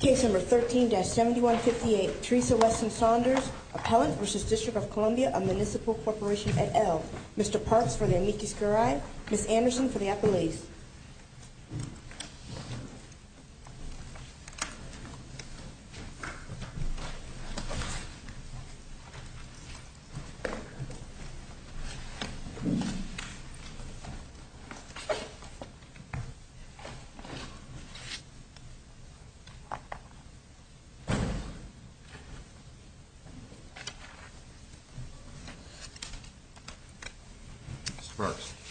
Case number 13-7158 Teresa Weston Saunders, Appellant v. District of Columbia of Municipal Corporation et al. Mr. Parks for the amicus curiae, Ms. Anderson for the appellees.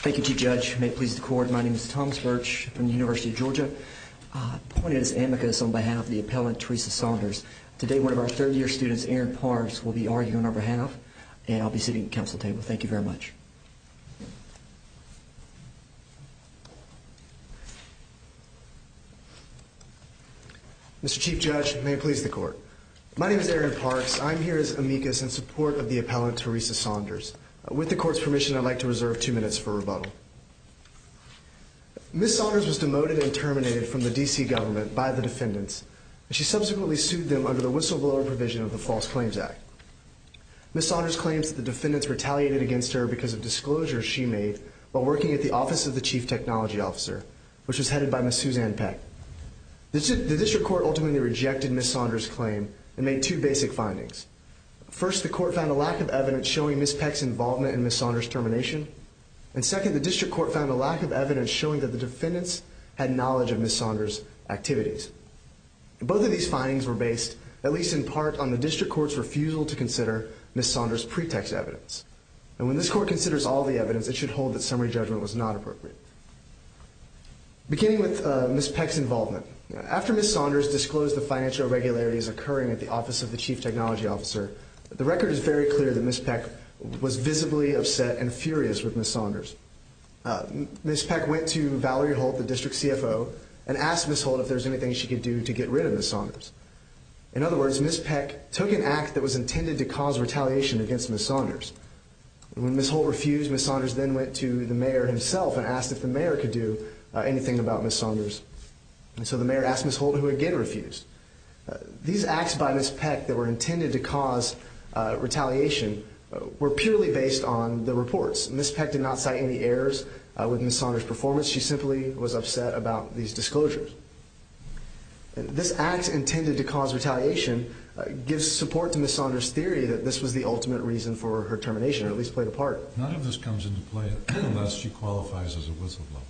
Thank you Chief Judge. May it please the court, my name is Tom Spurge from the University of Georgia. Appointed as amicus on behalf of the appellant Teresa Saunders. Today one of our third year students, Aaron Parves, will be arguing on our behalf and I'll be sitting at the council table. Thank you very much. Mr. Chief Judge, may it please the court. My name is Aaron Parves, I'm here as amicus in support of the appellant Teresa Saunders. With the court's permission I'd like to reserve two minutes for rebuttal. Ms. Saunders was demoted and terminated from the DC government by the defendants. She subsequently sued them under the whistleblower provision of the False Claims Act. Ms. Saunders claims that the defendants retaliated against her because of disclosures she made while working at the office of the Chief Technology Officer, which was headed by Ms. Suzanne Peck. The district court ultimately rejected Ms. Saunders' claim and made two basic findings. First, the court found a lack of evidence showing Ms. Peck's involvement in Ms. Saunders' termination. And second, the district court found a lack of evidence showing that the defendants had knowledge of Ms. Saunders' activities. Both of these findings were based, at least in part, on the district court's refusal to consider Ms. Saunders' pretext evidence. And when this court considers all the evidence, it should hold that summary judgment was not appropriate. Beginning with Ms. Peck's involvement. After Ms. Saunders disclosed the financial irregularities occurring at the office of the Chief Technology Officer, the record is very clear that Ms. Peck was visibly upset and furious with Ms. Saunders. Ms. Peck went to Valerie Holt, the district CFO, and asked Ms. Holt if there was anything she could do to get rid of Ms. Saunders. In other words, Ms. Peck took an act that was intended to cause retaliation against Ms. Saunders. When Ms. Holt refused, Ms. Saunders then went to the mayor himself and asked if the mayor could do anything about Ms. Saunders. And so the mayor asked Ms. Holt, who again refused. These acts by Ms. Peck that were intended to cause retaliation were purely based on the reports. Ms. Peck did not cite any errors with Ms. Saunders' performance. She simply was upset about these disclosures. This act intended to cause retaliation gives support to Ms. Saunders' theory that this was the ultimate reason for her termination, or at least played a part. None of this comes into play unless she qualifies as a whistleblower.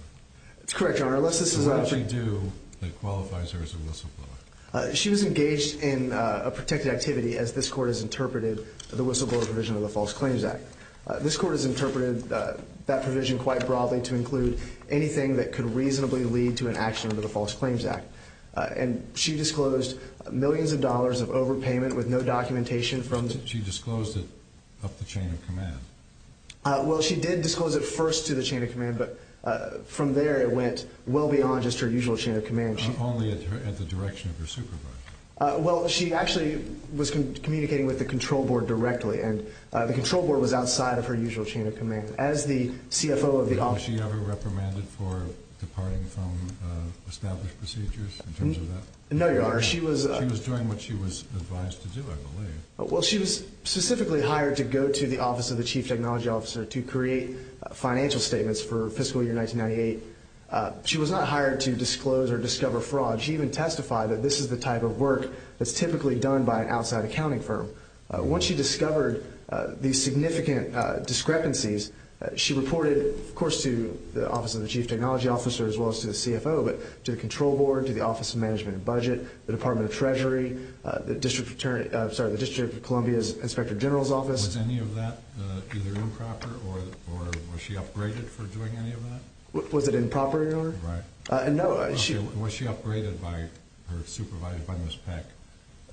That's correct, Your Honor. Unless she do, it qualifies her as a whistleblower. She was engaged in a protected activity as this court has interpreted the whistleblower provision of the False Claims Act. This court has interpreted that provision quite broadly to include anything that could reasonably lead to an action under the False Claims Act. And she disclosed millions of dollars of overpayment with no documentation from... She disclosed it up the chain of command. Well, she did disclose it first to the chain of command, but from there it went well beyond just her usual chain of command. Only at the direction of her supervisor. Well, she actually was communicating with the control board directly, and the control board was outside of her usual chain of command. As the CFO of the office... Was she ever reprimanded for departing from established procedures in terms of that? No, Your Honor, she was... She was doing what she was advised to do, I believe. Well, she was specifically hired to go to the office of the chief technology officer to create financial statements for fiscal year 1998. She was not hired to disclose or discover fraud. She even testified that this is the type of work that's typically done by an outside accounting firm. Once she discovered these significant discrepancies, she reported, of course, to the office of the chief technology officer as well as to the CFO, but to the control board, to the office of management and budget, the Department of Treasury, the District of Columbia's inspector general's office. Was any of that either improper, or was she upgraded for doing any of that? Was it improper, Your Honor? Right. Was she upgraded by her supervisor, by Ms. Peck,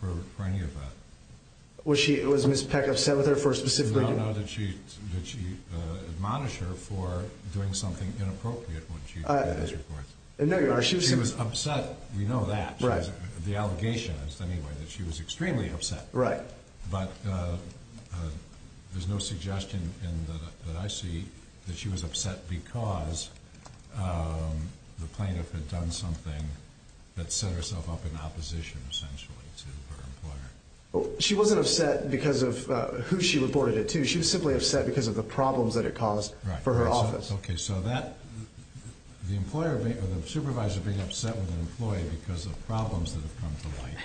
for any of that? Was Ms. Peck upset with her for specifically doing... No, no, did she admonish her for doing something inappropriate when she did those reports? No, Your Honor, she was... She was upset, we know that. Right. The allegation is, anyway, that she was extremely upset. Right. But there's no suggestion that I see that she was upset because the plaintiff had done something that set herself up in opposition, essentially, to her employer. She wasn't upset because of who she reported it to. She was simply upset because of the problems that it caused for her office. Okay, so the supervisor being upset with an employee because of problems that have come to light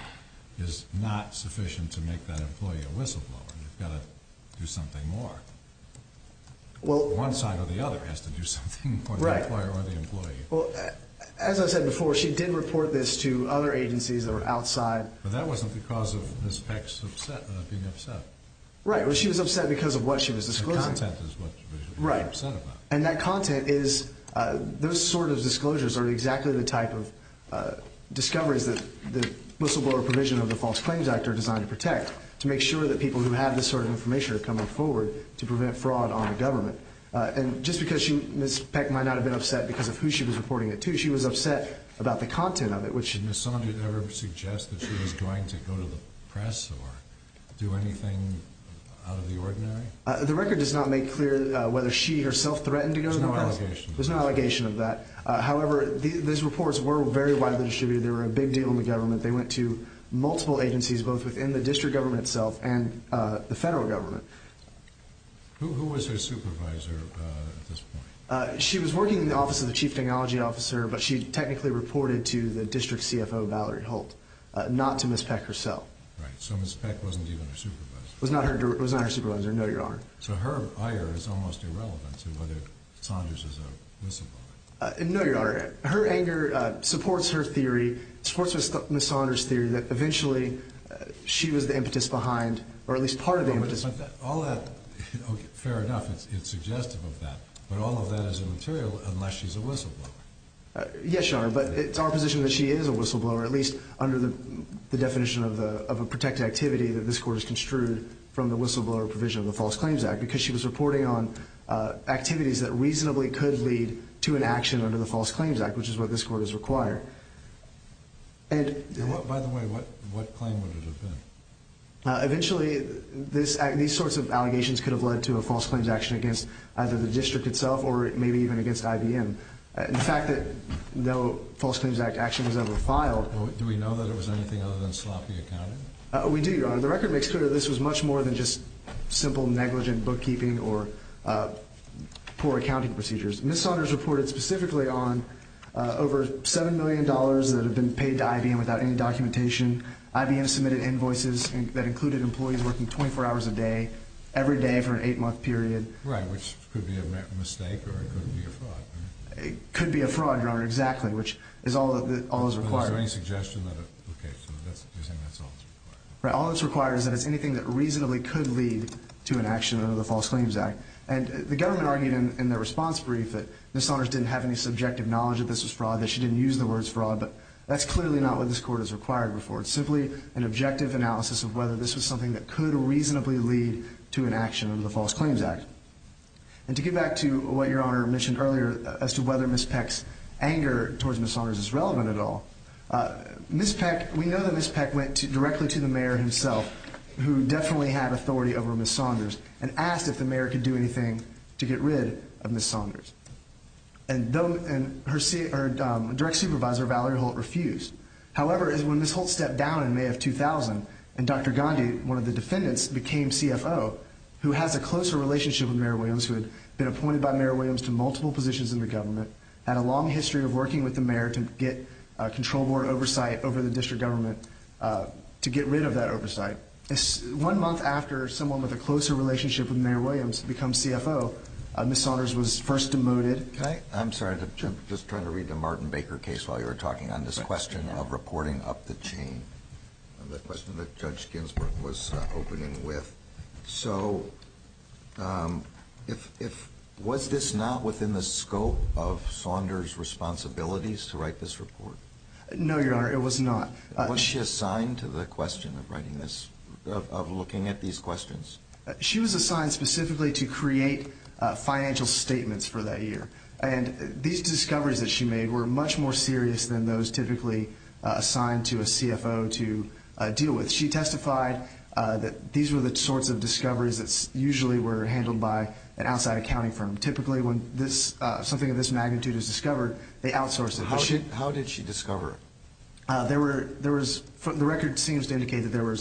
is not sufficient to make that employee a whistleblower. You've got to do something more. Well... One side or the other has to do something more, the employer or the employee. Well, as I said before, she did report this to other agencies that were outside. But that wasn't because of Ms. Peck being upset. Right, well, she was upset because of what she was disclosing. The content is what she was upset about. And that content is, those sort of disclosures are exactly the type of discoveries that the whistleblower provision of the False Claims Act are designed to protect, to make sure that people who have this sort of information are coming forward to prevent fraud on the government. And just because Ms. Peck might not have been upset because of who she was reporting it to, she was upset about the content of it, which... Did Ms. Saunders ever suggest that she was going to go to the press or do anything out of the ordinary? The record does not make clear whether she herself threatened to go to the press. There's no allegation. There's no allegation of that. However, these reports were very widely distributed. They were a big deal in the government. They went to multiple agencies, both within the district government itself and the federal government. Who was her supervisor at this point? She was working in the office of the chief technology officer, but she technically reported to the district CFO, Valerie Holt, not to Ms. Peck herself. Right, so Ms. Peck wasn't even her supervisor. Was not her supervisor, no, Your Honor. So her ire is almost irrelevant to whether Saunders is a whistleblower. No, Your Honor. Her anger supports her theory, supports Ms. Saunders' theory that eventually she was the impetus behind, or at least part of the impetus. All that, fair enough, it's suggestive of that, but all of that is immaterial unless she's a whistleblower. Yes, Your Honor, but it's our position that she is a whistleblower, at least under the definition of a protected activity that this court has construed from the whistleblower provision of the False Claims Act, because she was reporting on activities that reasonably could lead to an action under the False Claims Act, which is what this court has required. By the way, what claim would it have been? Eventually, these sorts of allegations could have led to a false claims action against either the district itself or maybe even against IBM. In fact, no false claims action was ever filed. Do we know that it was anything other than sloppy accounting? We do, Your Honor. The record makes clear that this was much more than just simple, negligent bookkeeping or poor accounting procedures. Ms. Saunders reported specifically on over $7 million that had been paid to IBM without any documentation. IBM submitted invoices that included employees working 24 hours a day, every day for an eight-month period. Right, which could be a mistake or it could be a fraud, right? It could be a fraud, Your Honor, exactly, which is all that's required. Is there any suggestion that, okay, so you're saying that's all that's required? Right, all that's required is that it's anything that reasonably could lead to an action under the False Claims Act. And the government argued in their response brief that Ms. Saunders didn't have any subjective knowledge that this was fraud, that she didn't use the words fraud, but that's clearly not what this court has required before. It's simply an objective analysis of whether this was something that could reasonably lead to an action under the False Claims Act. And to get back to what Your Honor mentioned earlier as to whether Ms. Peck's anger towards Ms. Saunders is relevant at all, Ms. Peck, we know that Ms. Peck went directly to the mayor himself, who definitely had authority over Ms. Saunders, and asked if the mayor could do anything to get rid of Ms. Saunders. And her direct supervisor, Valerie Holt, refused. However, when Ms. Holt stepped down in May of 2000 and Dr. Gandhi, one of the defendants, became CFO, who has a closer relationship with Mayor Williams, who had been appointed by Mayor Williams to multiple positions in the government, had a long history of working with the mayor to get control board oversight over the district government to get rid of that oversight. One month after someone with a closer relationship with Mayor Williams becomes CFO, Ms. Saunders was first demoted. I'm sorry, I'm just trying to read the Martin Baker case while you're talking on this question of reporting up the chain. The question that Judge Ginsburg was opening with. So, was this not within the scope of Saunders' responsibilities to write this report? No, Your Honor, it was not. Was she assigned to the question of writing this, of looking at these questions? She was assigned specifically to create financial statements for that year. And these discoveries that she made were much more serious than those typically assigned to a CFO to deal with. She testified that these were the sorts of discoveries that usually were handled by an outside accounting firm. Typically, when something of this magnitude is discovered, they outsource it. How did she discover it? The record seems to indicate that there were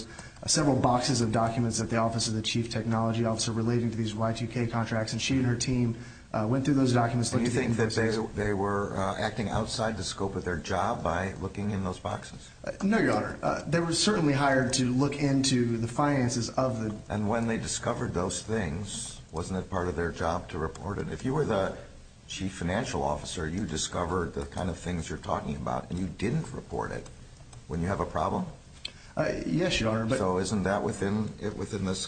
several boxes of documents at the office of the Chief Technology Officer relating to these Y2K contracts. And she and her team went through those documents. Do you think that they were acting outside the scope of their job by looking in those boxes? No, Your Honor. They were certainly hired to look into the finances of the- And when they discovered those things, wasn't it part of their job to report it? If you were the Chief Financial Officer, you discovered the kind of things you're talking about, and you didn't report it, wouldn't you have a problem? Yes, Your Honor. So isn't that within the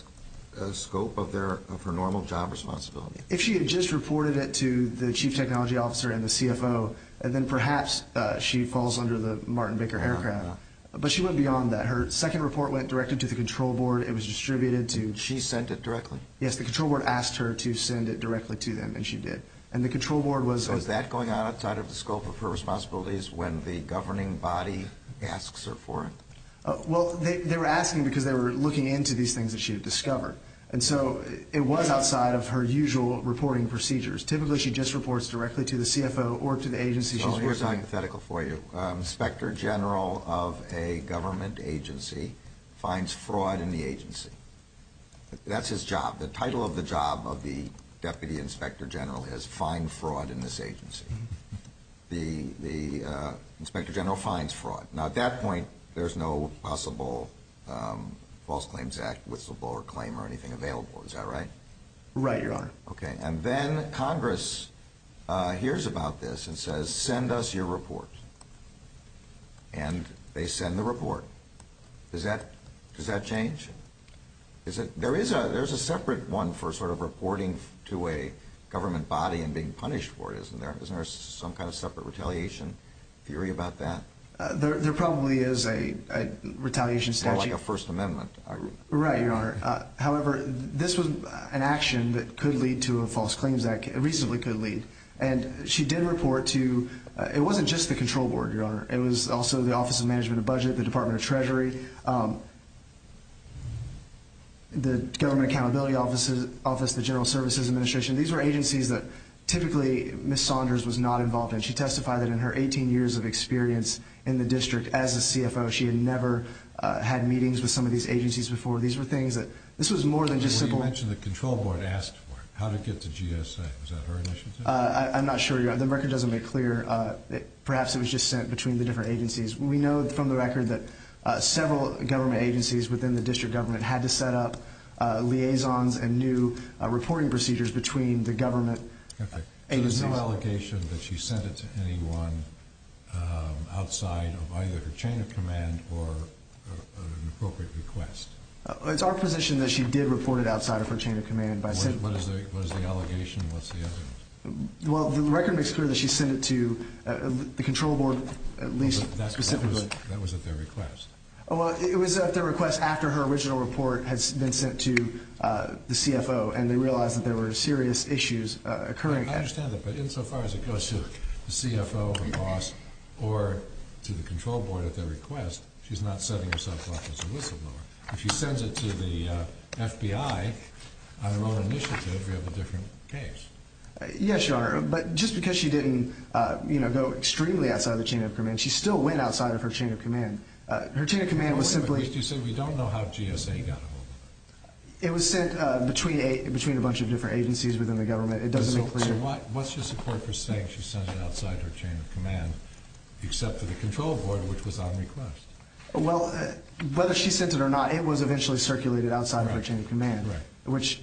scope of her normal job responsibility? If she had just reported it to the Chief Technology Officer and the CFO, then perhaps she falls under the Martin Baker haircraft. But she went beyond that. Her second report went directly to the control board. It was distributed to- She sent it directly? Yes, the control board asked her to send it directly to them, and she did. And the control board was- So is that going on outside of the scope of her responsibilities when the governing body asks her for it? Well, they were asking because they were looking into these things that she had discovered. And so it was outside of her usual reporting procedures. Typically, she just reports directly to the CFO or to the agency. So here's hypothetical for you. Inspector General of a government agency finds fraud in the agency. That's his job. The title of the job of the Deputy Inspector General is find fraud in this agency. The Inspector General finds fraud. Now, at that point, there's no possible False Claims Act whistleblower claim or anything available. Is that right? Right, Your Honor. Okay. And then Congress hears about this and says, send us your report. And they send the report. Does that change? There is a separate one for sort of reporting to a government body and being punished for it, isn't there? Isn't there some kind of separate retaliation theory about that? There probably is a retaliation statute. More like a First Amendment argument. Right, Your Honor. However, this was an action that could lead to a False Claims Act. It reasonably could lead. And she did report to-it wasn't just the control board, Your Honor. It was also the Office of Management and Budget, the Department of Treasury. The Government Accountability Office, the General Services Administration. These were agencies that typically Ms. Saunders was not involved in. She testified that in her 18 years of experience in the district as a CFO, she had never had meetings with some of these agencies before. These were things that-this was more than just simple- Well, you mentioned the control board asked for it, how to get to GSA. Was that her initiative? I'm not sure. The record doesn't make clear. Perhaps it was just sent between the different agencies. We know from the record that several government agencies within the district government had to set up liaisons and new reporting procedures between the government agencies. So there's no allegation that she sent it to anyone outside of either her chain of command or an appropriate request? It's our position that she did report it outside of her chain of command. What is the allegation? What's the evidence? Well, the record makes clear that she sent it to the control board, at least specifically. That was at their request. Well, it was at their request after her original report had been sent to the CFO, and they realized that there were serious issues occurring. I understand that, but insofar as it goes to the CFO, the boss, or to the control board at their request, she's not setting herself up as a whistleblower. If she sends it to the FBI on her own initiative, we have a different case. Yes, Your Honor, but just because she didn't go extremely outside of the chain of command, she still went outside of her chain of command. Her chain of command was simply— At least you said we don't know how GSA got a hold of it. It was sent between a bunch of different agencies within the government. It doesn't make clear. So what's your support for saying she sent it outside her chain of command, except for the control board, which was on request? Well, whether she sent it or not, it was eventually circulated outside of her chain of command, which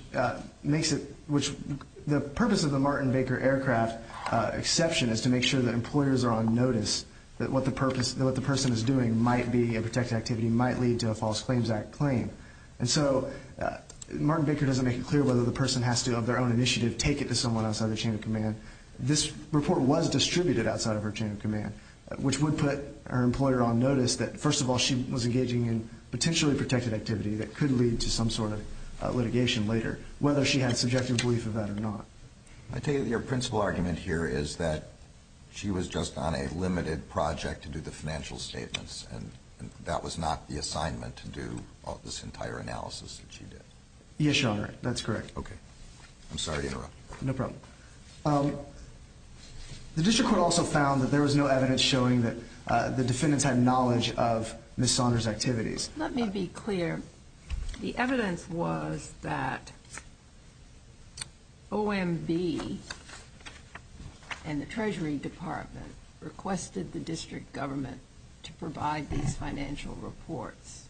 makes it—the purpose of the Martin Baker aircraft exception is to make sure that employers are on notice that what the person is doing might be a protected activity, might lead to a False Claims Act claim. And so Martin Baker doesn't make it clear whether the person has to, of their own initiative, take it to someone outside the chain of command. This report was distributed outside of her chain of command, which would put her employer on notice that, first of all, she was engaging in potentially protected activity that could lead to some sort of litigation later, whether she had subjective belief of that or not. I take it your principal argument here is that she was just on a limited project to do the financial statements, and that was not the assignment to do this entire analysis that she did. Yes, Your Honor, that's correct. I'm sorry to interrupt. No problem. The district court also found that there was no evidence showing that the defendants had knowledge of Ms. Saunders' activities. Let me be clear. The evidence was that OMB and the Treasury Department requested the district government to provide these financial reports.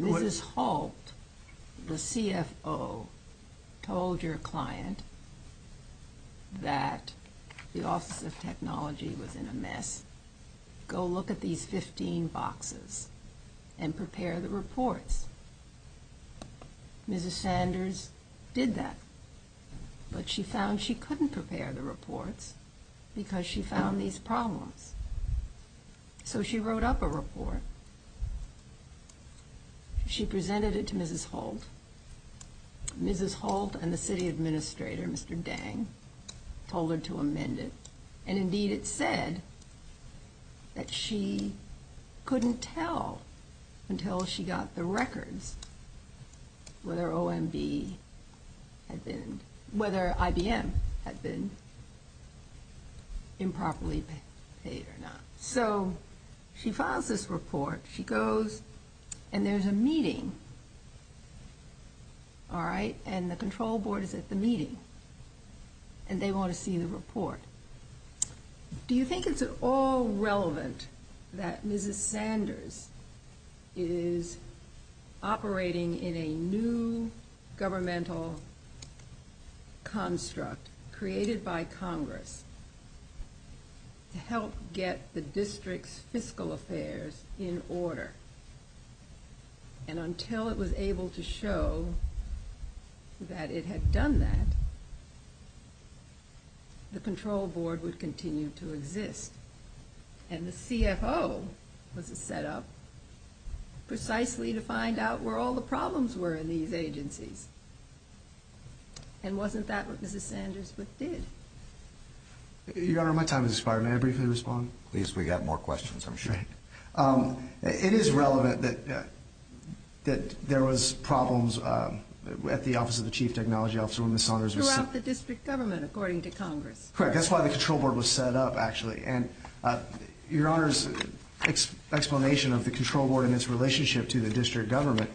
Mrs. Holt, the CFO, told her client that the Office of Technology was in a mess. Go look at these 15 boxes and prepare the reports. Mrs. Sanders did that, but she found she couldn't prepare the reports because she found these problems. So she wrote up a report. She presented it to Mrs. Holt. Mrs. Holt and the city administrator, Mr. Dang, told her to amend it. And, indeed, it said that she couldn't tell until she got the records whether OMB had been, whether IBM had been improperly paid or not. So she files this report. She goes, and there's a meeting, all right, and the control board is at the meeting, and they want to see the report. Do you think it's at all relevant that Mrs. Sanders is operating in a new governmental construct created by Congress to help get the district's fiscal affairs in order? And until it was able to show that it had done that, the control board would continue to exist. And the CFO was set up precisely to find out where all the problems were in these agencies. And wasn't that what Mrs. Sanders did? Your Honor, my time has expired. May I briefly respond? At least we got more questions, I'm sure. It is relevant that there was problems at the office of the chief technology officer when Mrs. Sanders was set up. Throughout the district government, according to Congress. Correct. That's why the control board was set up, actually. And Your Honor's explanation of the control board and its relationship to the district government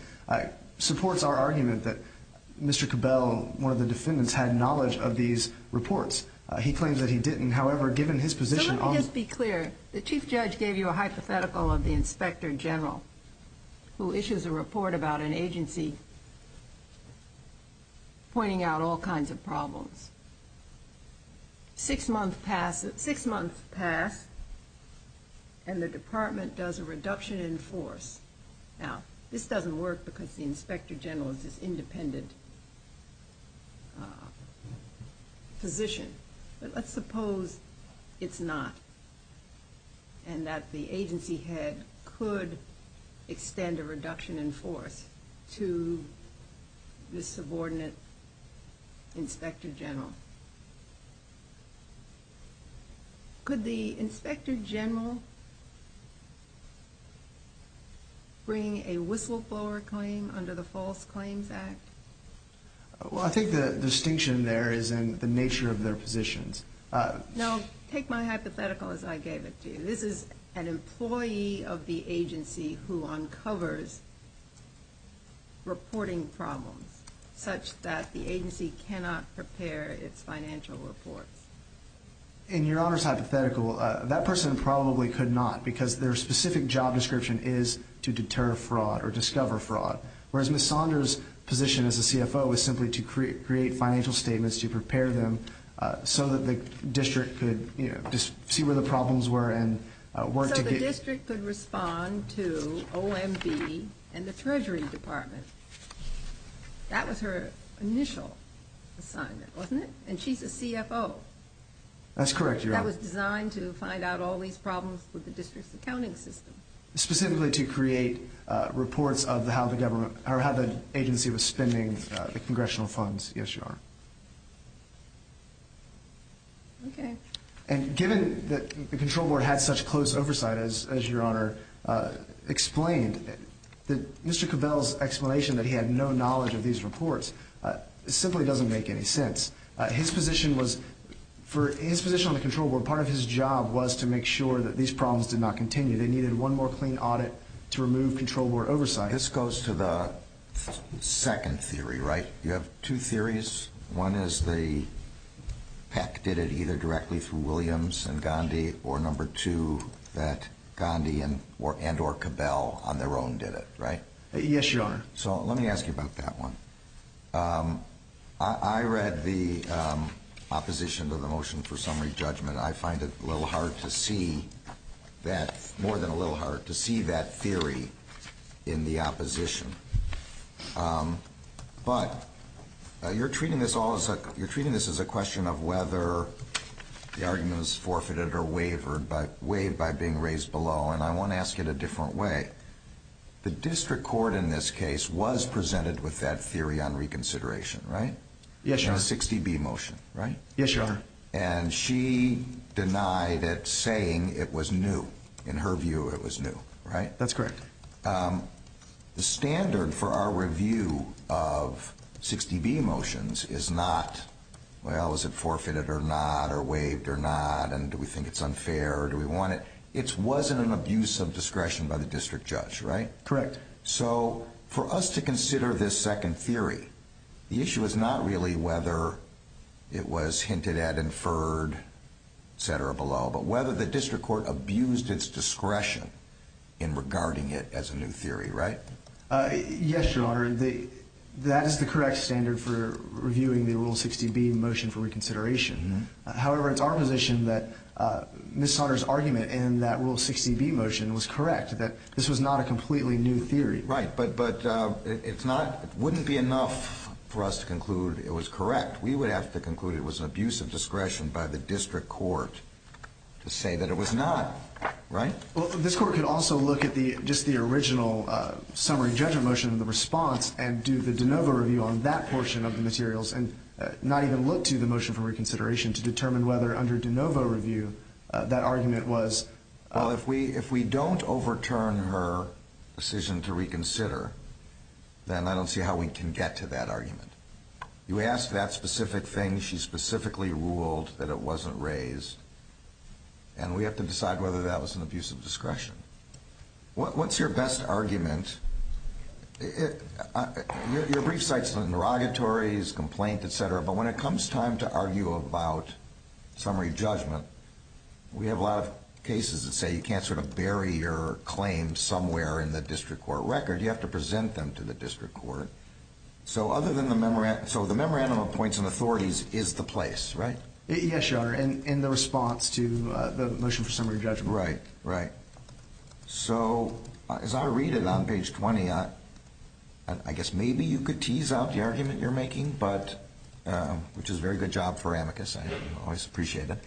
supports our argument that Mr. Cabell, one of the defendants, had knowledge of these reports. He claims that he didn't. However, given his position on the – Let me just be clear. The chief judge gave you a hypothetical of the inspector general, who issues a report about an agency pointing out all kinds of problems. Six months pass, and the department does a reduction in force. Now, this doesn't work because the inspector general is this independent position. But let's suppose it's not, and that the agency head could extend a reduction in force to this subordinate inspector general. Could the inspector general bring a whistleblower claim under the False Claims Act? Well, I think the distinction there is in the nature of their positions. Now, take my hypothetical as I gave it to you. This is an employee of the agency who uncovers reporting problems, such that the agency cannot prepare its financial reports. In Your Honor's hypothetical, that person probably could not, because their specific job description is to deter fraud or discover fraud. Whereas Ms. Saunders' position as a CFO is simply to create financial statements to prepare them so that the district could see where the problems were and work to get – So the district could respond to OMB and the Treasury Department. That was her initial assignment, wasn't it? And she's a CFO. That's correct, Your Honor. That was designed to find out all these problems with the district's accounting system. Specifically to create reports of how the government – or how the agency was spending the congressional funds, yes, Your Honor. Okay. And given that the control board had such close oversight, as Your Honor explained, Mr. Cavell's explanation that he had no knowledge of these reports simply doesn't make any sense. His position was – for his position on the control board, part of his job was to make sure that these problems did not continue. They needed one more clean audit to remove control board oversight. This goes to the second theory, right? You have two theories. One is the PEC did it either directly through Williams and Gandhi, or number two, that Gandhi and or Cavell on their own did it, right? Yes, Your Honor. So let me ask you about that one. I read the opposition to the motion for summary judgment. I find it a little hard to see that – more than a little hard to see that theory in the opposition. But you're treating this as a question of whether the argument was forfeited or waived by being raised below, and I want to ask it a different way. The district court in this case was presented with that theory on reconsideration, right? Yes, Your Honor. In the 60B motion, right? Yes, Your Honor. And she denied it, saying it was new. In her view, it was new, right? That's correct. The standard for our review of 60B motions is not, well, is it forfeited or not, or waived or not, and do we think it's unfair, or do we want it? It wasn't an abuse of discretion by the district judge, right? Correct. So for us to consider this second theory, the issue is not really whether it was hinted at, inferred, etc. below, but whether the district court abused its discretion in regarding it as a new theory, right? Yes, Your Honor. That is the correct standard for reviewing the Rule 60B motion for reconsideration. However, it's our position that Ms. Saunders' argument in that Rule 60B motion was correct, that this was not a completely new theory. Right, but it wouldn't be enough for us to conclude it was correct. We would have to conclude it was an abuse of discretion by the district court to say that it was not, right? Well, this court could also look at just the original summary judgment motion and the response and do the de novo review on that portion of the materials and not even look to the motion for reconsideration to determine whether under de novo review that argument was... Well, if we don't overturn her decision to reconsider, then I don't see how we can get to that argument. You ask that specific thing. She specifically ruled that it wasn't raised, and we have to decide whether that was an abuse of discretion. What's your best argument? Your brief cites the derogatories, complaint, et cetera, but when it comes time to argue about summary judgment, we have a lot of cases that say you can't sort of bury your claims somewhere in the district court record. You have to present them to the district court. So the memorandum of points and authorities is the place, right? Yes, Your Honor, in the response to the motion for summary judgment. Right, right. So as I read it on page 20, I guess maybe you could tease out the argument you're making, which is a very good job for amicus. I always appreciate it.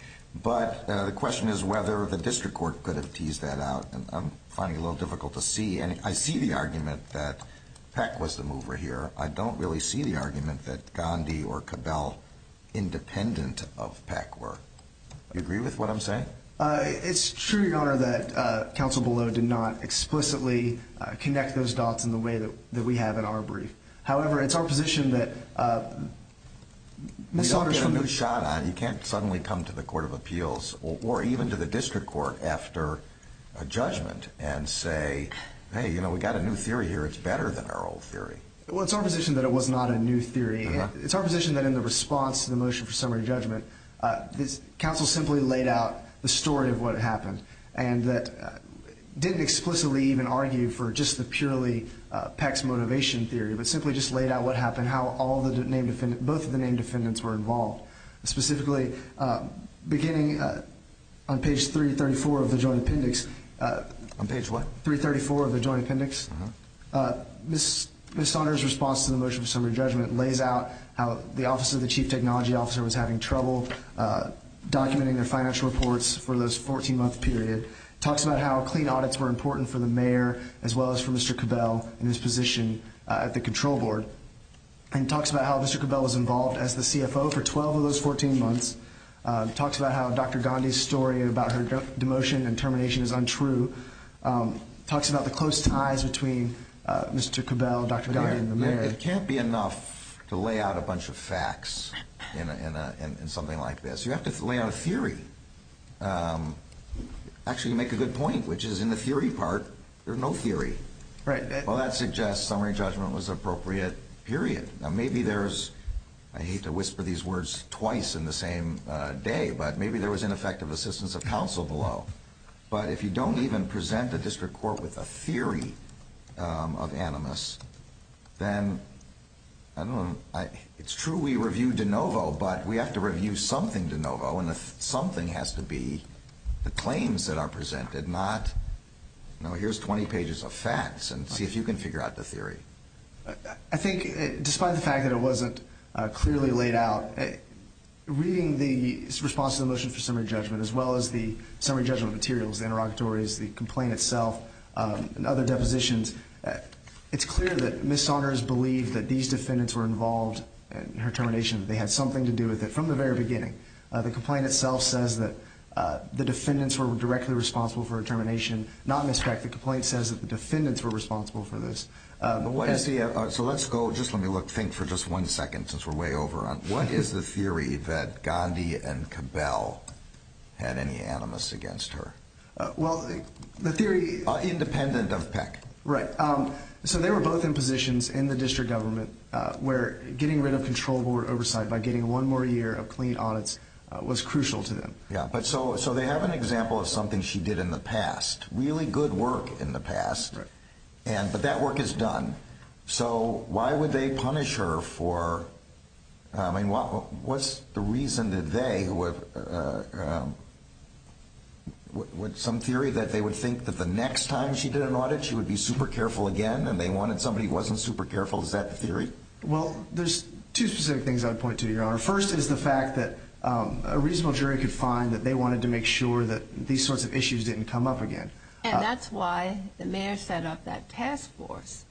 But the question is whether the district court could have teased that out. I'm finding it a little difficult to see, and I see the argument that Peck was the mover here. I don't really see the argument that Gandhi or Cabell, independent of Peck, were. Do you agree with what I'm saying? It's true, Your Honor, that counsel below did not explicitly connect those dots in the way that we have in our brief. However, it's our position that Ms. Saunders from Moushadah, you can't suddenly come to the court of appeals or even to the district court after a judgment and say, hey, you know, we got a new theory here. It's better than our old theory. Well, it's our position that it was not a new theory. It's our position that in the response to the motion for summary judgment, counsel simply laid out the story of what happened and didn't explicitly even argue for just the purely Peck's motivation theory, but simply just laid out what happened, how both of the named defendants were involved. Specifically, beginning on page 334 of the joint appendix. On page what? 334 of the joint appendix. Ms. Saunders' response to the motion for summary judgment lays out how the office of the chief technology officer was having trouble documenting their financial reports for this 14-month period. Talks about how clean audits were important for the mayor as well as for Mr. Cabell and his position at the control board. And talks about how Mr. Cabell was involved as the CFO for 12 of those 14 months. Talks about how Dr. Gandhi's story about her demotion and termination is untrue. Talks about the close ties between Mr. Cabell, Dr. Gandhi, and the mayor. It can't be enough to lay out a bunch of facts in something like this. You have to lay out a theory. Actually, you make a good point, which is in the theory part, there's no theory. Right. Well, that suggests summary judgment was an appropriate period. Now, maybe there's, I hate to whisper these words twice in the same day, but maybe there was ineffective assistance of counsel below. But if you don't even present the district court with a theory of animus, then it's true we review de novo, but we have to review something de novo, and the something has to be the claims that are presented, not, no, here's 20 pages of facts and see if you can figure out the theory. I think, despite the fact that it wasn't clearly laid out, reading the response to the motion for summary judgment as well as the summary judgment materials, the interrogatories, the complaint itself, and other depositions, it's clear that Ms. Saunders believed that these defendants were involved in her termination, that they had something to do with it from the very beginning. The complaint itself says that the defendants were directly responsible for her termination, not Ms. Peck. The complaint says that the defendants were responsible for this. So let's go, just let me think for just one second since we're way over on, what is the theory that Gandhi and Cabell had any animus against her? Well, the theory, Independent of Peck. Right. So they were both in positions in the district government where getting rid of control board oversight by getting one more year of clean audits was crucial to them. Yeah, but so they have an example of something she did in the past, really good work in the past, but that work is done. So why would they punish her for, I mean, what's the reason that they, some theory that they would think that the next time she did an audit she would be super careful again and they wanted somebody who wasn't super careful, is that the theory? Well, there's two specific things I would point to, Your Honor. First is the fact that a reasonable jury could find that they wanted to make sure that these sorts of issues didn't come up again. And that's why the mayor set up that task force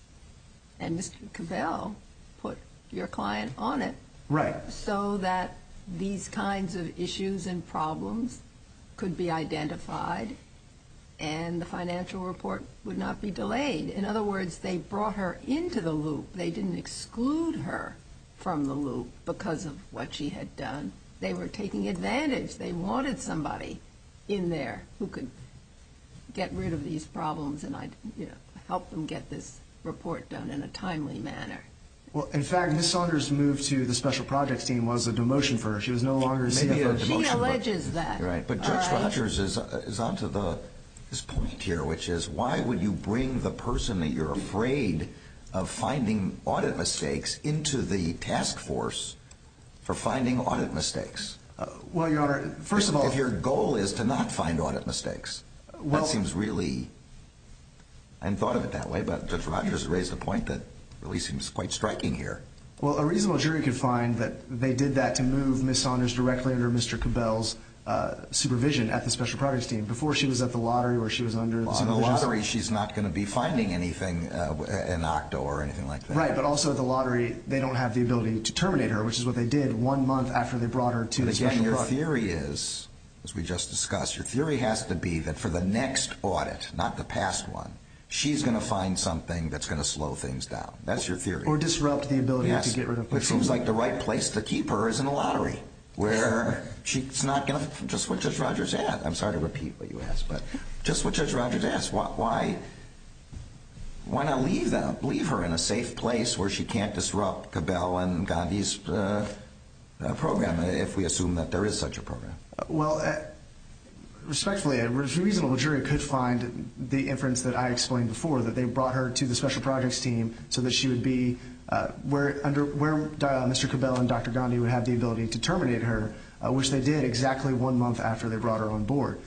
and Mr. Cabell put your client on it. Right. So that these kinds of issues and problems could be identified and the financial report would not be delayed. In other words, they brought her into the loop. They didn't exclude her from the loop because of what she had done. They were taking advantage. They wanted somebody in there who could get rid of these problems and help them get this report done in a timely manner. Well, in fact, Ms. Saunders' move to the special projects team was a demotion for her. She was no longer a CFO. She alleges that. Right. But Judge Rogers is on to this point here, which is why would you bring the person that you're afraid of finding audit mistakes into the task force for finding audit mistakes? Well, Your Honor, first of all. If your goal is to not find audit mistakes. Well. That seems really unthought of it that way, but Judge Rogers raised a point that really seems quite striking here. Well, a reasonable jury could find that they did that to move Ms. Saunders directly under Mr. Cabell's supervision at the special projects team before she was at the lottery where she was under the supervision. On the lottery, she's not going to be finding anything in OCTO or anything like that. Right. But also at the lottery, they don't have the ability to terminate her, which is what they did one month after they brought her to the special projects team. Again, your theory is, as we just discussed, your theory has to be that for the next audit, not the past one, she's going to find something that's going to slow things down. That's your theory. Or disrupt the ability to get rid of her. Yes. It seems like the right place to keep her is in a lottery where she's not going to, just what Judge Rogers asked. I'm sorry to repeat what you asked, but just what Judge Rogers asked. Why not leave her in a safe place where she can't disrupt Cabell and Gandhi's program, if we assume that there is such a program? Well, respectfully, a reasonable jury could find the inference that I explained before, that they brought her to the special projects team so that she would be where Mr. Cabell and Dr. Gandhi would have the ability to terminate her, which they did exactly one month after they brought her on board.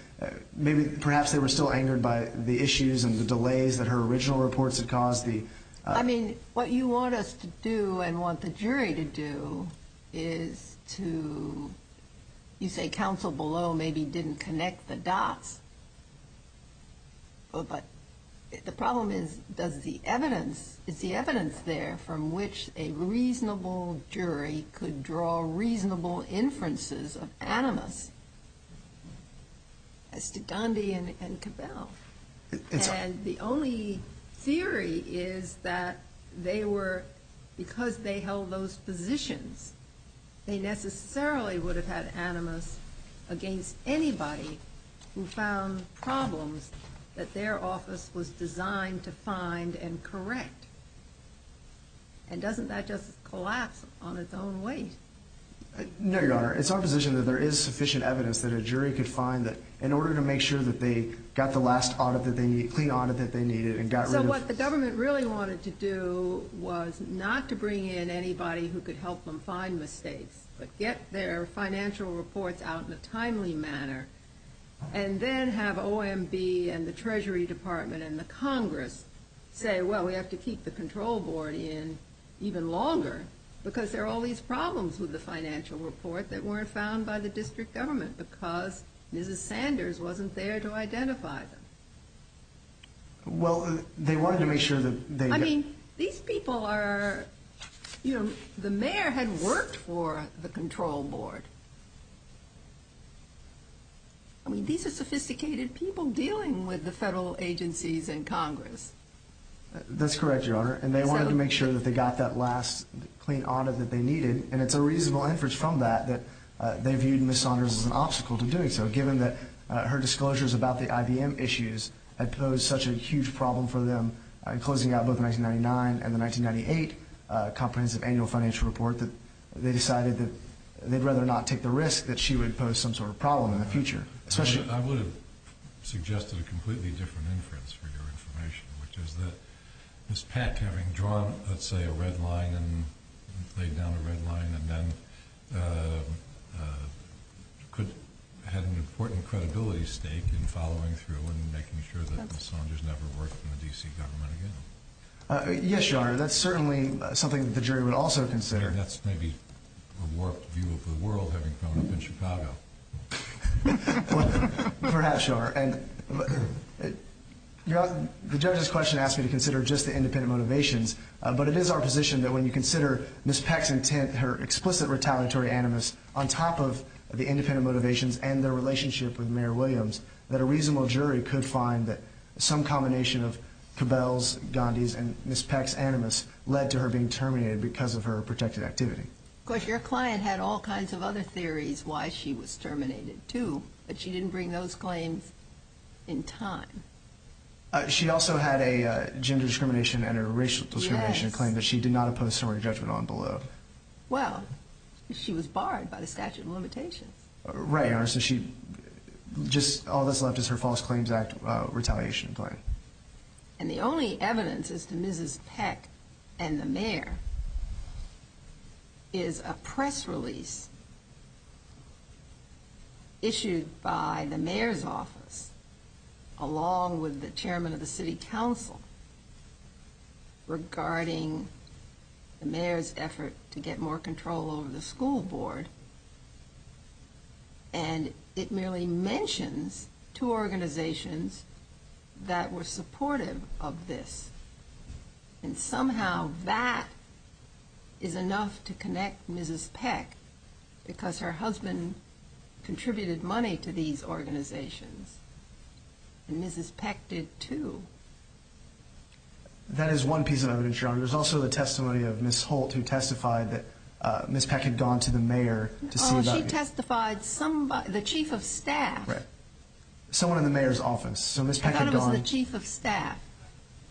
Perhaps they were still angered by the issues and the delays that her original reports had caused. I mean, what you want us to do and want the jury to do is to, you say counsel below maybe didn't connect the dots, but the problem is, is the evidence there from which a reasonable jury could draw reasonable inferences of animus as to Gandhi and Cabell. And the only theory is that they were, because they held those positions, they necessarily would have had animus against anybody who found problems that their office was designed to find and correct. And doesn't that just collapse on its own weight? No, Your Honor. It's our position that there is sufficient evidence that a jury could find that, in order to make sure that they got the last audit that they needed, clean audit that they needed and got rid of... So what the government really wanted to do was not to bring in anybody who could help them find mistakes, but get their financial reports out in a timely manner and then have OMB and the Treasury Department and the Congress say, well, we have to keep the control board in even longer, because there are all these problems with the financial report that weren't found by the district government, because Mrs. Sanders wasn't there to identify them. Well, they wanted to make sure that they... I mean, these people are, you know, the mayor had worked for the control board. I mean, these are sophisticated people dealing with the federal agencies in Congress. That's correct, Your Honor. And they wanted to make sure that they got that last clean audit that they needed, and it's a reasonable inference from that that they viewed Mrs. Sanders as an obstacle to doing so, given that her disclosures about the IBM issues had posed such a huge problem for them in closing out both the 1999 and the 1998 comprehensive annual financial report that they decided that they'd rather not take the risk that she would pose some sort of problem in the future. I would have suggested a completely different inference for your information, which is that Ms. Peck, having drawn, let's say, a red line and laid down a red line and then had an important credibility stake in following through and making sure that Mrs. Sanders never worked in the D.C. government again. Yes, Your Honor, that's certainly something that the jury would also consider. That's maybe a warped view of the world, having grown up in Chicago. Perhaps, Your Honor. The judge's question asked me to consider just the independent motivations, but it is our position that when you consider Ms. Peck's intent, her explicit retaliatory animus, on top of the independent motivations and their relationship with Mayor Williams, that a reasonable jury could find that some combination of Cabell's, Gandhi's, and Ms. Peck's animus led to her being terminated because of her protected activity. Of course, your client had all kinds of other theories why she was terminated, too, but she didn't bring those claims in time. She also had a gender discrimination and a racial discrimination claim that she did not oppose summary judgment on below. Well, she was barred by the statute of limitations. Right, Your Honor, so all that's left is her False Claims Act retaliation claim. And the only evidence as to Mrs. Peck and the mayor is a press release issued by the mayor's office, along with the chairman of the city council, regarding the mayor's effort to get more control over the school board, and it merely mentions two organizations that were supportive of this. And somehow that is enough to connect Mrs. Peck because her husband contributed money to these organizations, and Mrs. Peck did, too. That is one piece of evidence, Your Honor. There's also the testimony of Ms. Holt, who testified that Ms. Peck had gone to the mayor to see about this. Oh, she testified somebody, the chief of staff. Right, someone in the mayor's office. So Ms. Peck had gone. I thought it was the chief of staff.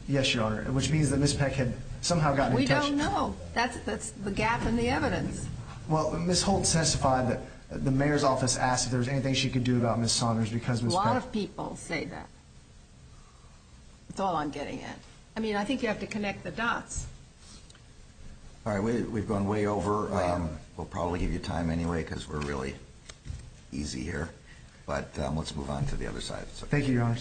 Yes, Your Honor, which means that Ms. Peck had somehow gotten in touch. We don't know. That's the gap in the evidence. Well, Ms. Holt testified that the mayor's office asked if there was anything she could do about Ms. Saunders because Ms. Peck. A lot of people say that. That's all I'm getting at. I mean, I think you have to connect the dots. All right, we've gone way over. We'll probably give you time anyway because we're really easy here. But let's move on to the other side. Thank you, Your Honor.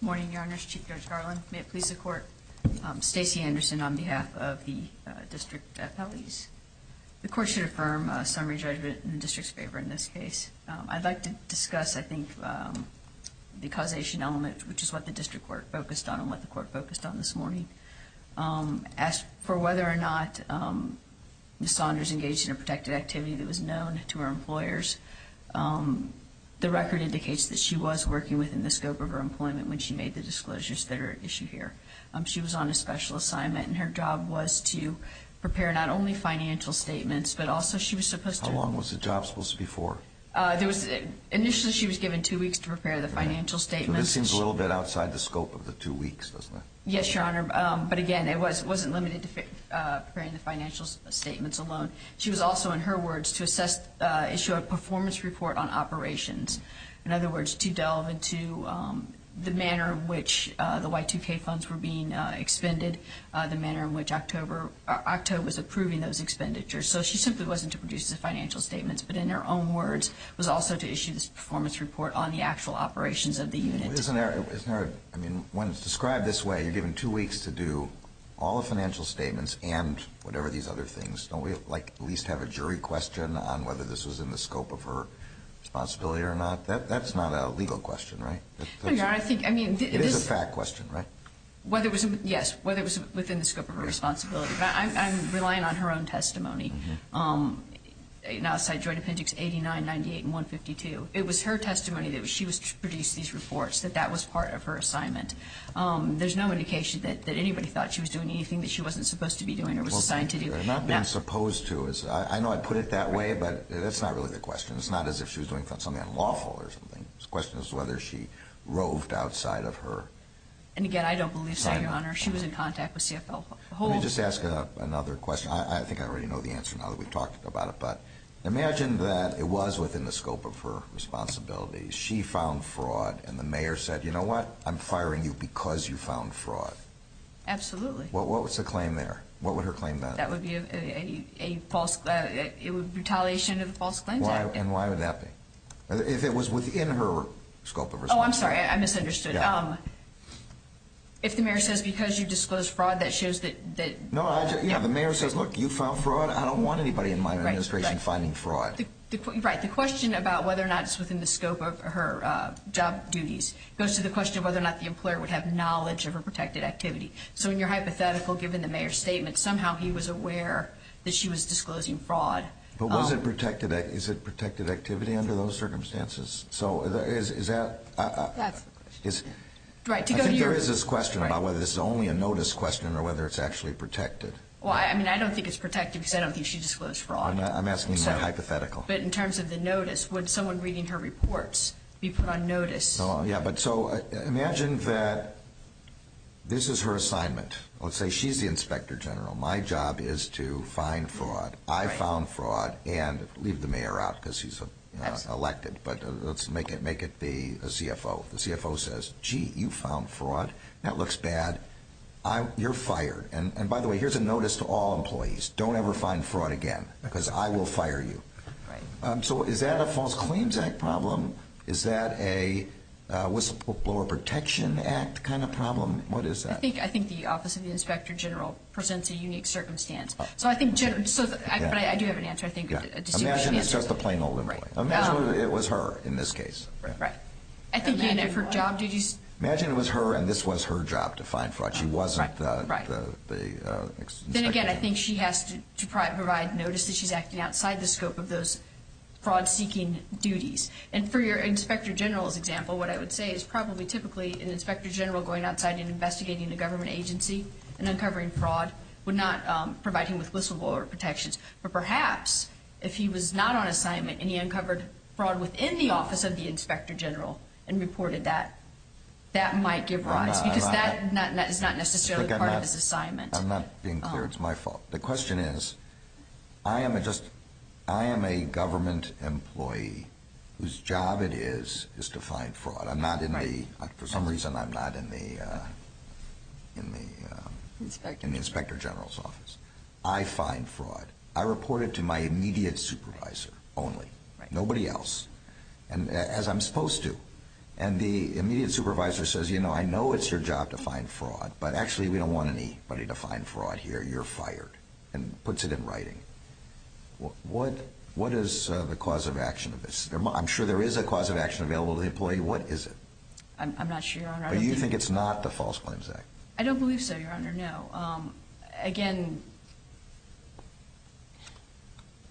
Good morning, Your Honors. Chief Judge Garland. May it please the Court. Stacey Anderson on behalf of the district appellees. The Court should affirm summary judgment in the district's favor in this case. I'd like to discuss, I think, the causation element, which is what the district court focused on and what the court focused on this morning. As for whether or not Ms. Saunders engaged in a protected activity that was known to her employers, the record indicates that she was working within the scope of her employment when she made the disclosures that are at issue here. She was on a special assignment, and her job was to prepare not only financial statements but also she was supposed to. How long was the job supposed to be for? Initially she was given two weeks to prepare the financial statements. This seems a little bit outside the scope of the two weeks, doesn't it? Yes, Your Honor. But, again, it wasn't limited to preparing the financial statements alone. She was also, in her words, to assess, issue a performance report on operations. In other words, to delve into the manner in which the Y2K funds were being expended, the manner in which OCTO was approving those expenditures. So she simply wasn't to produce the financial statements, but in her own words was also to issue this performance report on the actual operations of the unit. Isn't there a, I mean, when it's described this way, you're given two weeks to do all the financial statements and whatever these other things. Don't we, like, at least have a jury question on whether this was in the scope of her responsibility or not? That's not a legal question, right? No, Your Honor, I think, I mean, it is. It is a fact question, right? Yes, whether it was within the scope of her responsibility. I'm relying on her own testimony. Outside Joint Appendix 89, 98, and 152, it was her testimony that she was to produce these reports, that that was part of her assignment. There's no indication that anybody thought she was doing anything that she wasn't supposed to be doing or was assigned to do. Not being supposed to. I know I put it that way, but that's not really the question. It's not as if she was doing something unlawful or something. The question is whether she roved outside of her. And, again, I don't believe so, Your Honor. She was in contact with CFL. Let me just ask another question. I think I already know the answer now that we've talked about it, but imagine that it was within the scope of her responsibility. She found fraud and the mayor said, you know what, I'm firing you because you found fraud. Absolutely. What was the claim there? What would her claim be? That would be a false, retaliation of the False Claims Act. And why would that be? If it was within her scope of responsibility. Oh, I'm sorry, I misunderstood. If the mayor says, because you disclosed fraud, that shows that... No, the mayor says, look, you found fraud. I don't want anybody in my administration finding fraud. Right. The question about whether or not it's within the scope of her job duties goes to the question of whether or not the employer would have knowledge of her protected activity. So in your hypothetical, given the mayor's statement, somehow he was aware that she was disclosing fraud. But was it protected activity under those circumstances? So is that... That's... I think there is this question about whether this is only a notice question or whether it's actually protected. Well, I mean, I don't think it's protected because I don't think she disclosed fraud. I'm asking in my hypothetical. But in terms of the notice, would someone reading her reports be put on notice? Yeah, but so imagine that this is her assignment. Let's say she's the inspector general. My job is to find fraud. I found fraud and leave the mayor out because he's elected. But let's make it the CFO. The CFO says, gee, you found fraud. That looks bad. You're fired. And by the way, here's a notice to all employees. Don't ever find fraud again because I will fire you. Right. So is that a False Claims Act problem? Is that a Whistleblower Protection Act kind of problem? What is that? I think the Office of the Inspector General presents a unique circumstance. So I think... But I do have an answer, I think. Imagine it's just a plain old employee. Imagine it was her in this case. Right. Imagine it was her and this was her job to find fraud. She wasn't the inspector general. Then again, I think she has to provide notice that she's acting outside the scope of those fraud-seeking duties. And for your inspector general's example, what I would say is probably typically an inspector general going outside and investigating a government agency and uncovering fraud would not provide him with whistleblower protections. But perhaps if he was not on assignment and he uncovered fraud within the Office of the Inspector General and reported that, that might give rise. Because that is not necessarily part of his assignment. I'm not being clear. It's my fault. The question is, I am a government employee whose job it is to find fraud. I'm not in the... For some reason, I'm not in the inspector general's office. I find fraud. I report it to my immediate supervisor only, nobody else, as I'm supposed to. And the immediate supervisor says, you know, I know it's your job to find fraud, but actually we don't want anybody to find fraud here. You're fired, and puts it in writing. What is the cause of action of this? I'm sure there is a cause of action available to the employee. What is it? I'm not sure, Your Honor. You think it's not the False Claims Act? I don't believe so, Your Honor. No. Again...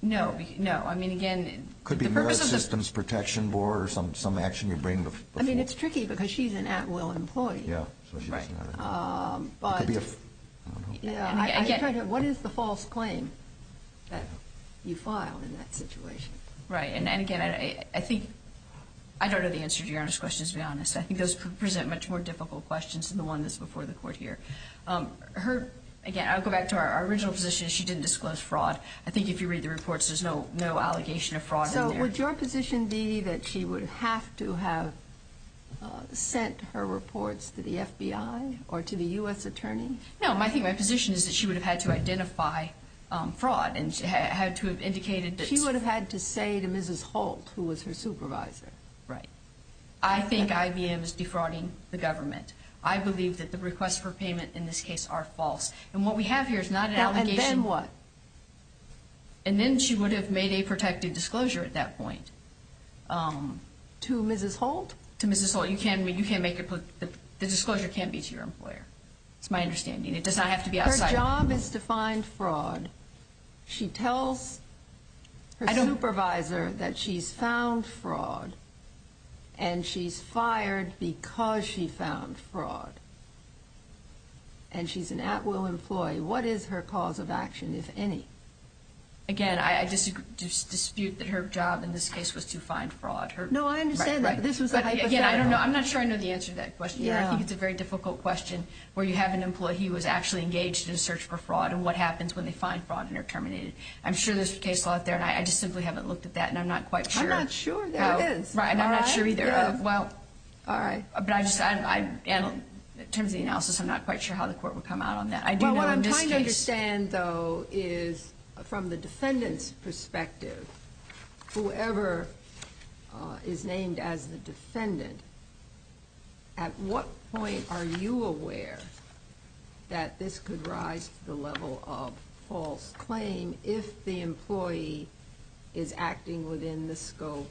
No. No. I mean, again, the purpose of the... It could be Merit Systems Protection Board or some action you bring before... I mean, it's tricky because she's an at-will employee. Yeah. But... It could be a... I don't know. Again... What is the false claim that you filed in that situation? Right. And, again, I think... I don't know the answer to Your Honor's question, to be honest. I think those present much more difficult questions than the one that's before the Court here. Her... Again, I'll go back to our original position. She didn't disclose fraud. I think if you read the reports, there's no allegation of fraud in there. So, would your position be that she would have to have sent her reports to the FBI or to the U.S. Attorney? No. I think my position is that she would have had to identify fraud and had to have indicated that... She would have had to say to Mrs. Holt, who was her supervisor. Right. I think IBM is defrauding the government. I believe that the requests for payment in this case are false. And what we have here is not an allegation... And then what? And then she would have made a protective disclosure at that point. To Mrs. Holt? To Mrs. Holt. You can't make a... the disclosure can't be to your employer. It's my understanding. It does not have to be outside... Her job is to find fraud. She tells her supervisor that she's found fraud. And she's fired because she found fraud. And she's an at-will employee. What is her cause of action, if any? Again, I dispute that her job in this case was to find fraud. No, I understand that. This was a hypothetical. Again, I don't know. I'm not sure I know the answer to that question. I think it's a very difficult question where you have an employee who was actually engaged in a search for fraud and what happens when they find fraud and are terminated. I'm sure there's a case law out there, and I just simply haven't looked at that, and I'm not quite sure... Right, and I'm not sure either. Well... All right. But I just... in terms of the analysis, I'm not quite sure how the court would come out on that. I do know in this case... What I'm trying to understand, though, is from the defendant's perspective, whoever is named as the defendant, at what point are you aware that this could rise to the level of false claim if the employee is acting within the scope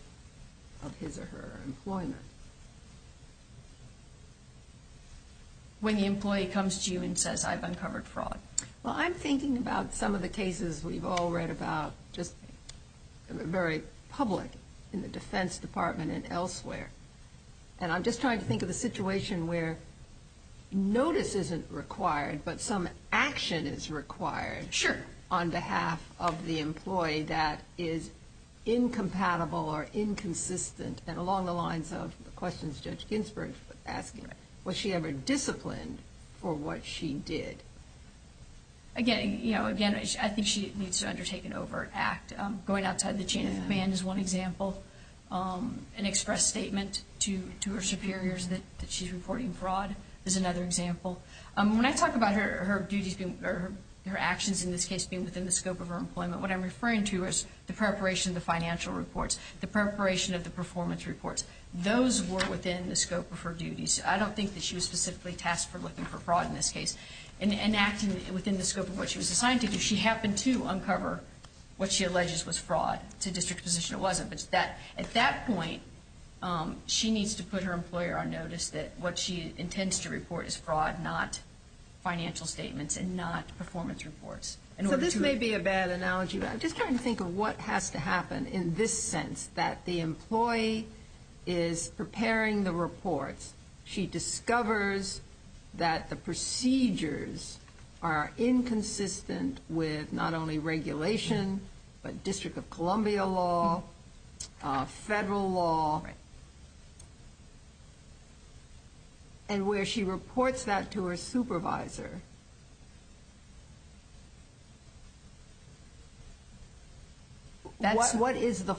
of his or her employment? When the employee comes to you and says, I've uncovered fraud. Well, I'm thinking about some of the cases we've all read about, just very public in the Defense Department and elsewhere. And I'm just trying to think of the situation where notice isn't required, but some action is required... Sure.... on behalf of the employee that is incompatible or inconsistent. And along the lines of the questions Judge Ginsburg was asking, was she ever disciplined for what she did? Again, I think she needs to undertake an overt act. Going outside the chain of command is one example. An express statement to her superiors that she's reporting fraud is another example. When I talk about her duties or her actions in this case being within the scope of her employment, what I'm referring to is the preparation of the financial reports, the preparation of the performance reports. Those were within the scope of her duties. I don't think that she was specifically tasked for looking for fraud in this case. In acting within the scope of what she was assigned to do, she happened to uncover what she alleges was fraud. It's a district position it wasn't. At that point, she needs to put her employer on notice that what she intends to report is fraud, not financial statements and not performance reports. So this may be a bad analogy, but I'm just trying to think of what has to happen in this sense, that the employee is preparing the reports. She discovers that the procedures are inconsistent with not only regulation, but District of Columbia law, federal law. And where she reports that to her supervisor, when does the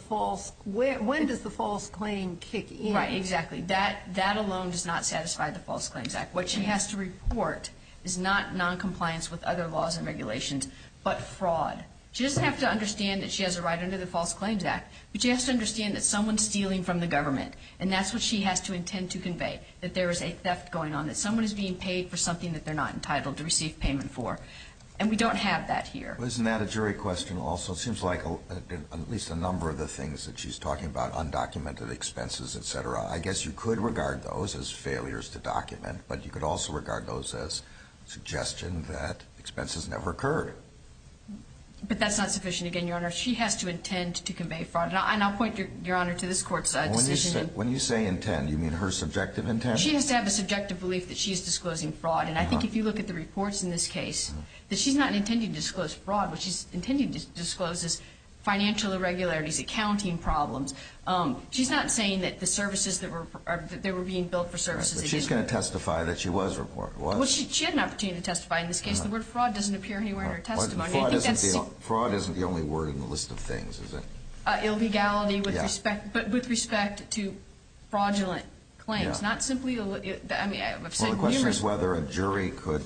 false claim kick in? Right, exactly. That alone does not satisfy the False Claims Act. What she has to report is not noncompliance with other laws and regulations, but fraud. She doesn't have to understand that she has a right under the False Claims Act, but she has to understand that someone's stealing from the government, and that's what she has to intend to convey, that there is a theft going on, that someone is being paid for something that they're not entitled to receive payment for. And we don't have that here. Isn't that a jury question also? It seems like at least a number of the things that she's talking about, undocumented expenses, et cetera, I guess you could regard those as failures to document, but you could also regard those as suggestion that expenses never occurred. But that's not sufficient. Again, Your Honor, she has to intend to convey fraud. And I'll point, Your Honor, to this Court's decision. When you say intend, you mean her subjective intent? She has to have a subjective belief that she is disclosing fraud. And I think if you look at the reports in this case, that she's not intending to disclose fraud, what she's intending to disclose is financial irregularities, accounting problems. She's going to testify that she was reported. Well, she had an opportunity to testify in this case. The word fraud doesn't appear anywhere in her testimony. Fraud isn't the only word in the list of things, is it? Illegality with respect to fraudulent claims. Not simply illegal. Well, the question is whether a jury could,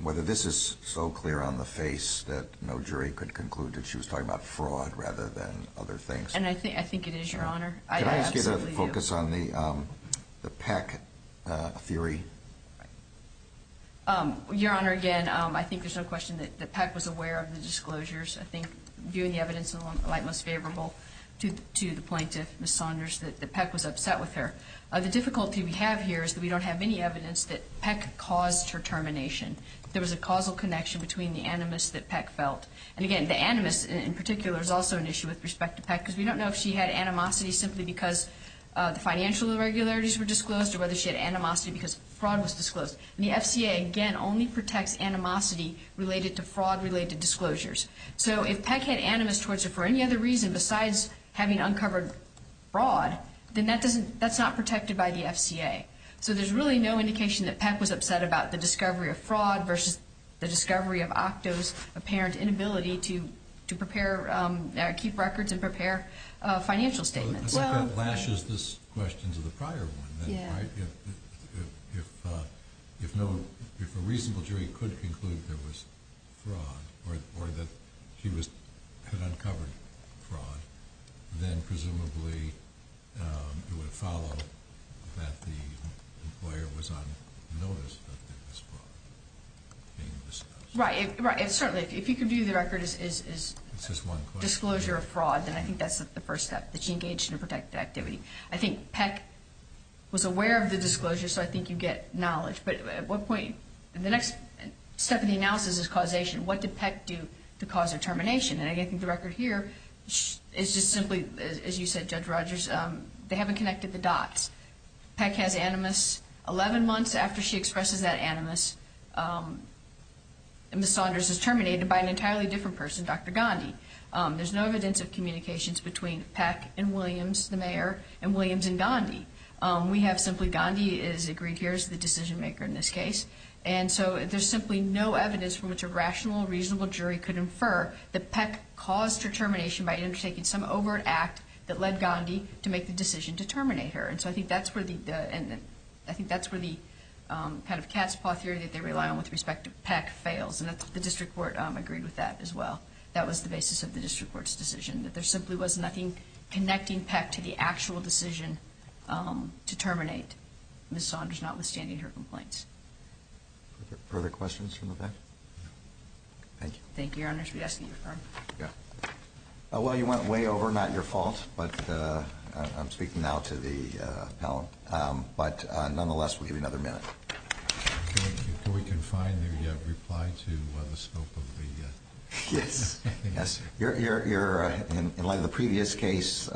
whether this is so clear on the face that no jury could conclude that she was talking about fraud rather than other things. And I think it is, Your Honor. Can I just get a focus on the Peck theory? Your Honor, again, I think there's no question that Peck was aware of the disclosures. I think, viewing the evidence in the light most favorable to the plaintiff, Ms. Saunders, that Peck was upset with her. The difficulty we have here is that we don't have any evidence that Peck caused her termination. There was a causal connection between the animus that Peck felt. And, again, the animus in particular is also an issue with respect to Peck because we don't know if she had animosity simply because the financial irregularities were disclosed or whether she had animosity because fraud was disclosed. And the FCA, again, only protects animosity related to fraud-related disclosures. So if Peck had animus towards her for any other reason besides having uncovered fraud, then that's not protected by the FCA. So there's really no indication that Peck was upset about the discovery of fraud versus the discovery of OCTO's apparent inability to keep records and prepare financial statements. It's like that lashes this question to the prior one. If a reasonable jury could conclude there was fraud or that she had uncovered fraud, then presumably it would follow that the employer was on notice that there was fraud being discussed. Right. Certainly, if you can view the record as disclosure of fraud, then I think that's the first step, that she engaged in a protected activity. I think Peck was aware of the disclosure, so I think you get knowledge. But at what point? The next step in the analysis is causation. What did Peck do to cause her termination? I think the record here is just simply, as you said, Judge Rogers, they haven't connected the dots. Peck has animus. Eleven months after she expresses that animus, Ms. Saunders is terminated by an entirely different person, Dr. Gandhi. There's no evidence of communications between Peck and Williams, the mayor, and Williams and Gandhi. We have simply Gandhi is agreed here as the decision-maker in this case. And so there's simply no evidence from which a rational, reasonable jury could infer that Peck caused her termination by undertaking some overt act that led Gandhi to make the decision to terminate her. And so I think that's where the kind of cat's paw theory that they rely on with respect to Peck fails, and the district court agreed with that as well. That was the basis of the district court's decision, that there simply was nothing connecting Peck to the actual decision to terminate Ms. Saunders, notwithstanding her complaints. Further questions from the Peck? No. Thank you. Thank you, Your Honors. We ask that you confirm. Yeah. Well, you went way over, not your fault, but I'm speaking now to the panel. But nonetheless, we'll give you another minute. Can we confine your reply to the scope of the case? Yes. In light of the previous case,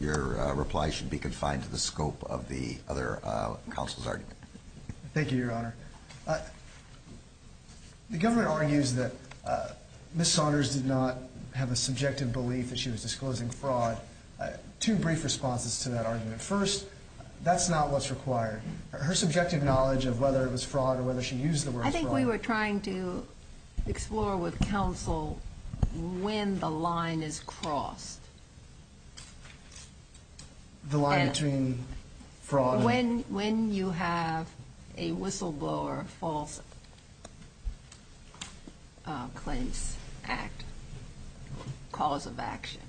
your reply should be confined to the scope of the other counsel's argument. Thank you, Your Honor. The government argues that Ms. Saunders did not have a subjective belief that she was disclosing fraud. Two brief responses to that argument. First, that's not what's required. Her subjective knowledge of whether it was fraud or whether she used the word fraud. I think we were trying to explore with counsel when the line is crossed. The line between fraud and? When you have a whistleblower false claims act cause of action.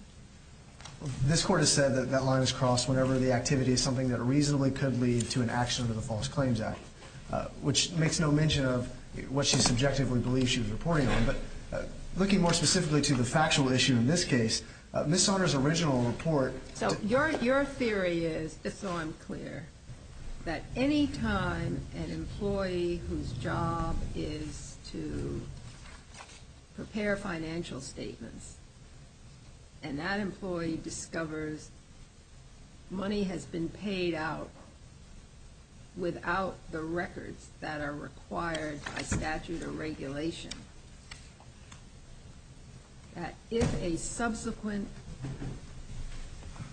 This Court has said that that line is crossed whenever the activity is something that reasonably could lead to an action under the False Claims Act, which makes no mention of what she subjectively believes she was reporting on. But looking more specifically to the factual issue in this case, Ms. Saunders' original report. So your theory is, just so I'm clear, that any time an employee whose job is to prepare financial statements and that employee discovers money has been paid out without the records that are required by statute or regulation, that if a subsequent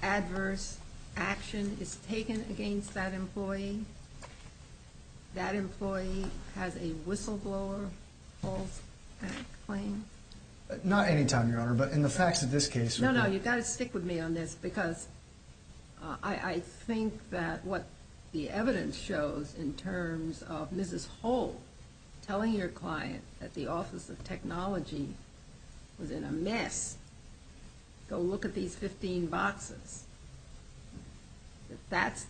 adverse action is taken against that employee, that employee has a whistleblower false claim? Not any time, Your Honor, but in the facts of this case. No, no, you've got to stick with me on this because I think that what the evidence shows in terms of Mrs. Holt telling her client that the Office of Technology was in a mess, go look at these 15 boxes, that that's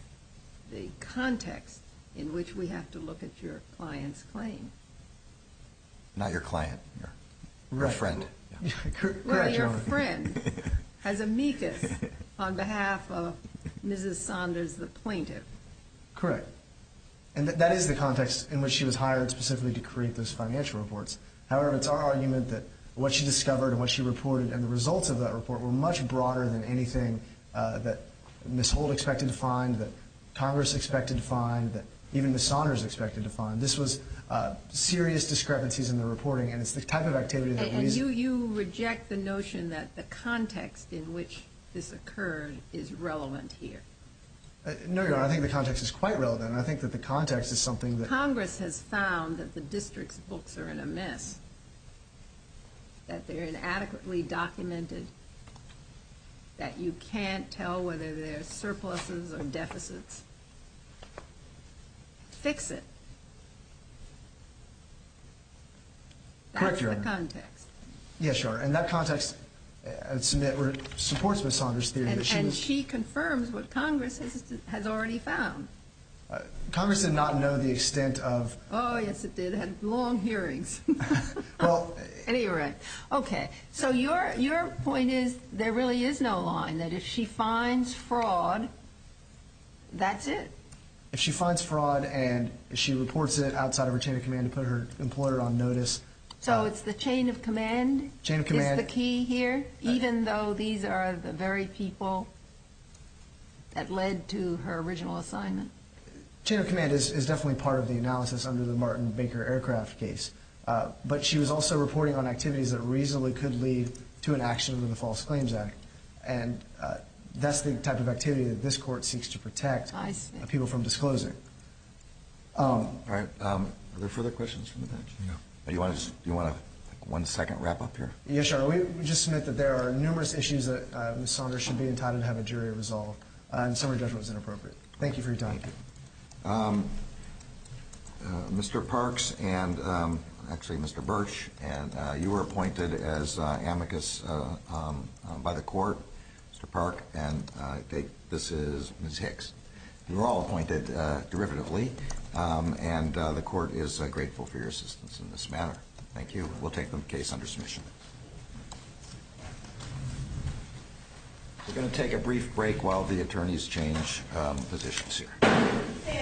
the context in which we have to look at your client's claim. Not your client, your friend. Well, your friend has amicus on behalf of Mrs. Saunders, the plaintiff. Correct. And that is the context in which she was hired specifically to create those financial reports. However, it's our argument that what she discovered and what she reported and the results of that report were much broader than anything that Ms. Holt expected to find, that Congress expected to find, that even Ms. Saunders expected to find. This was serious discrepancies in the reporting, and it's the type of activity that raises... And you reject the notion that the context in which this occurred is relevant here? No, Your Honor, I think the context is quite relevant, and I think that the context is something that... Congress has found that the district's books are in a mess, that they're inadequately documented, that you can't tell whether they're surpluses or deficits. Fix it. Correct, Your Honor. That's the context. Yes, Your Honor, and that context supports Ms. Saunders' theory that she was... And she confirms what Congress has already found. Congress did not know the extent of... Oh, yes, it did. It had long hearings. Anyway, okay, so your point is there really is no line, that if she finds fraud, that's it? If she finds fraud and she reports it outside of her chain of command to put her employer on notice... So it's the chain of command is the key here, even though these are the very people that led to her original assignment? Chain of command is definitely part of the analysis under the Martin Baker aircraft case, but she was also reporting on activities that reasonably could lead to an action under the False Claims Act, and that's the type of activity that this Court seeks to protect people from disclosing. All right, are there further questions from the bench? No. Do you want a one-second wrap-up here? Yes, Your Honor, we just submit that there are numerous issues that Ms. Saunders should be entitled to have a jury resolve, and summary judgment was inappropriate. Thank you for your time. Mr. Parks and actually Mr. Birch, you were appointed as amicus by the Court, Mr. Park, and this is Ms. Hicks. You were all appointed derivatively, and the Court is grateful for your assistance in this manner. Thank you. We'll take the case under submission. We're going to take a brief break while the attorneys change positions here.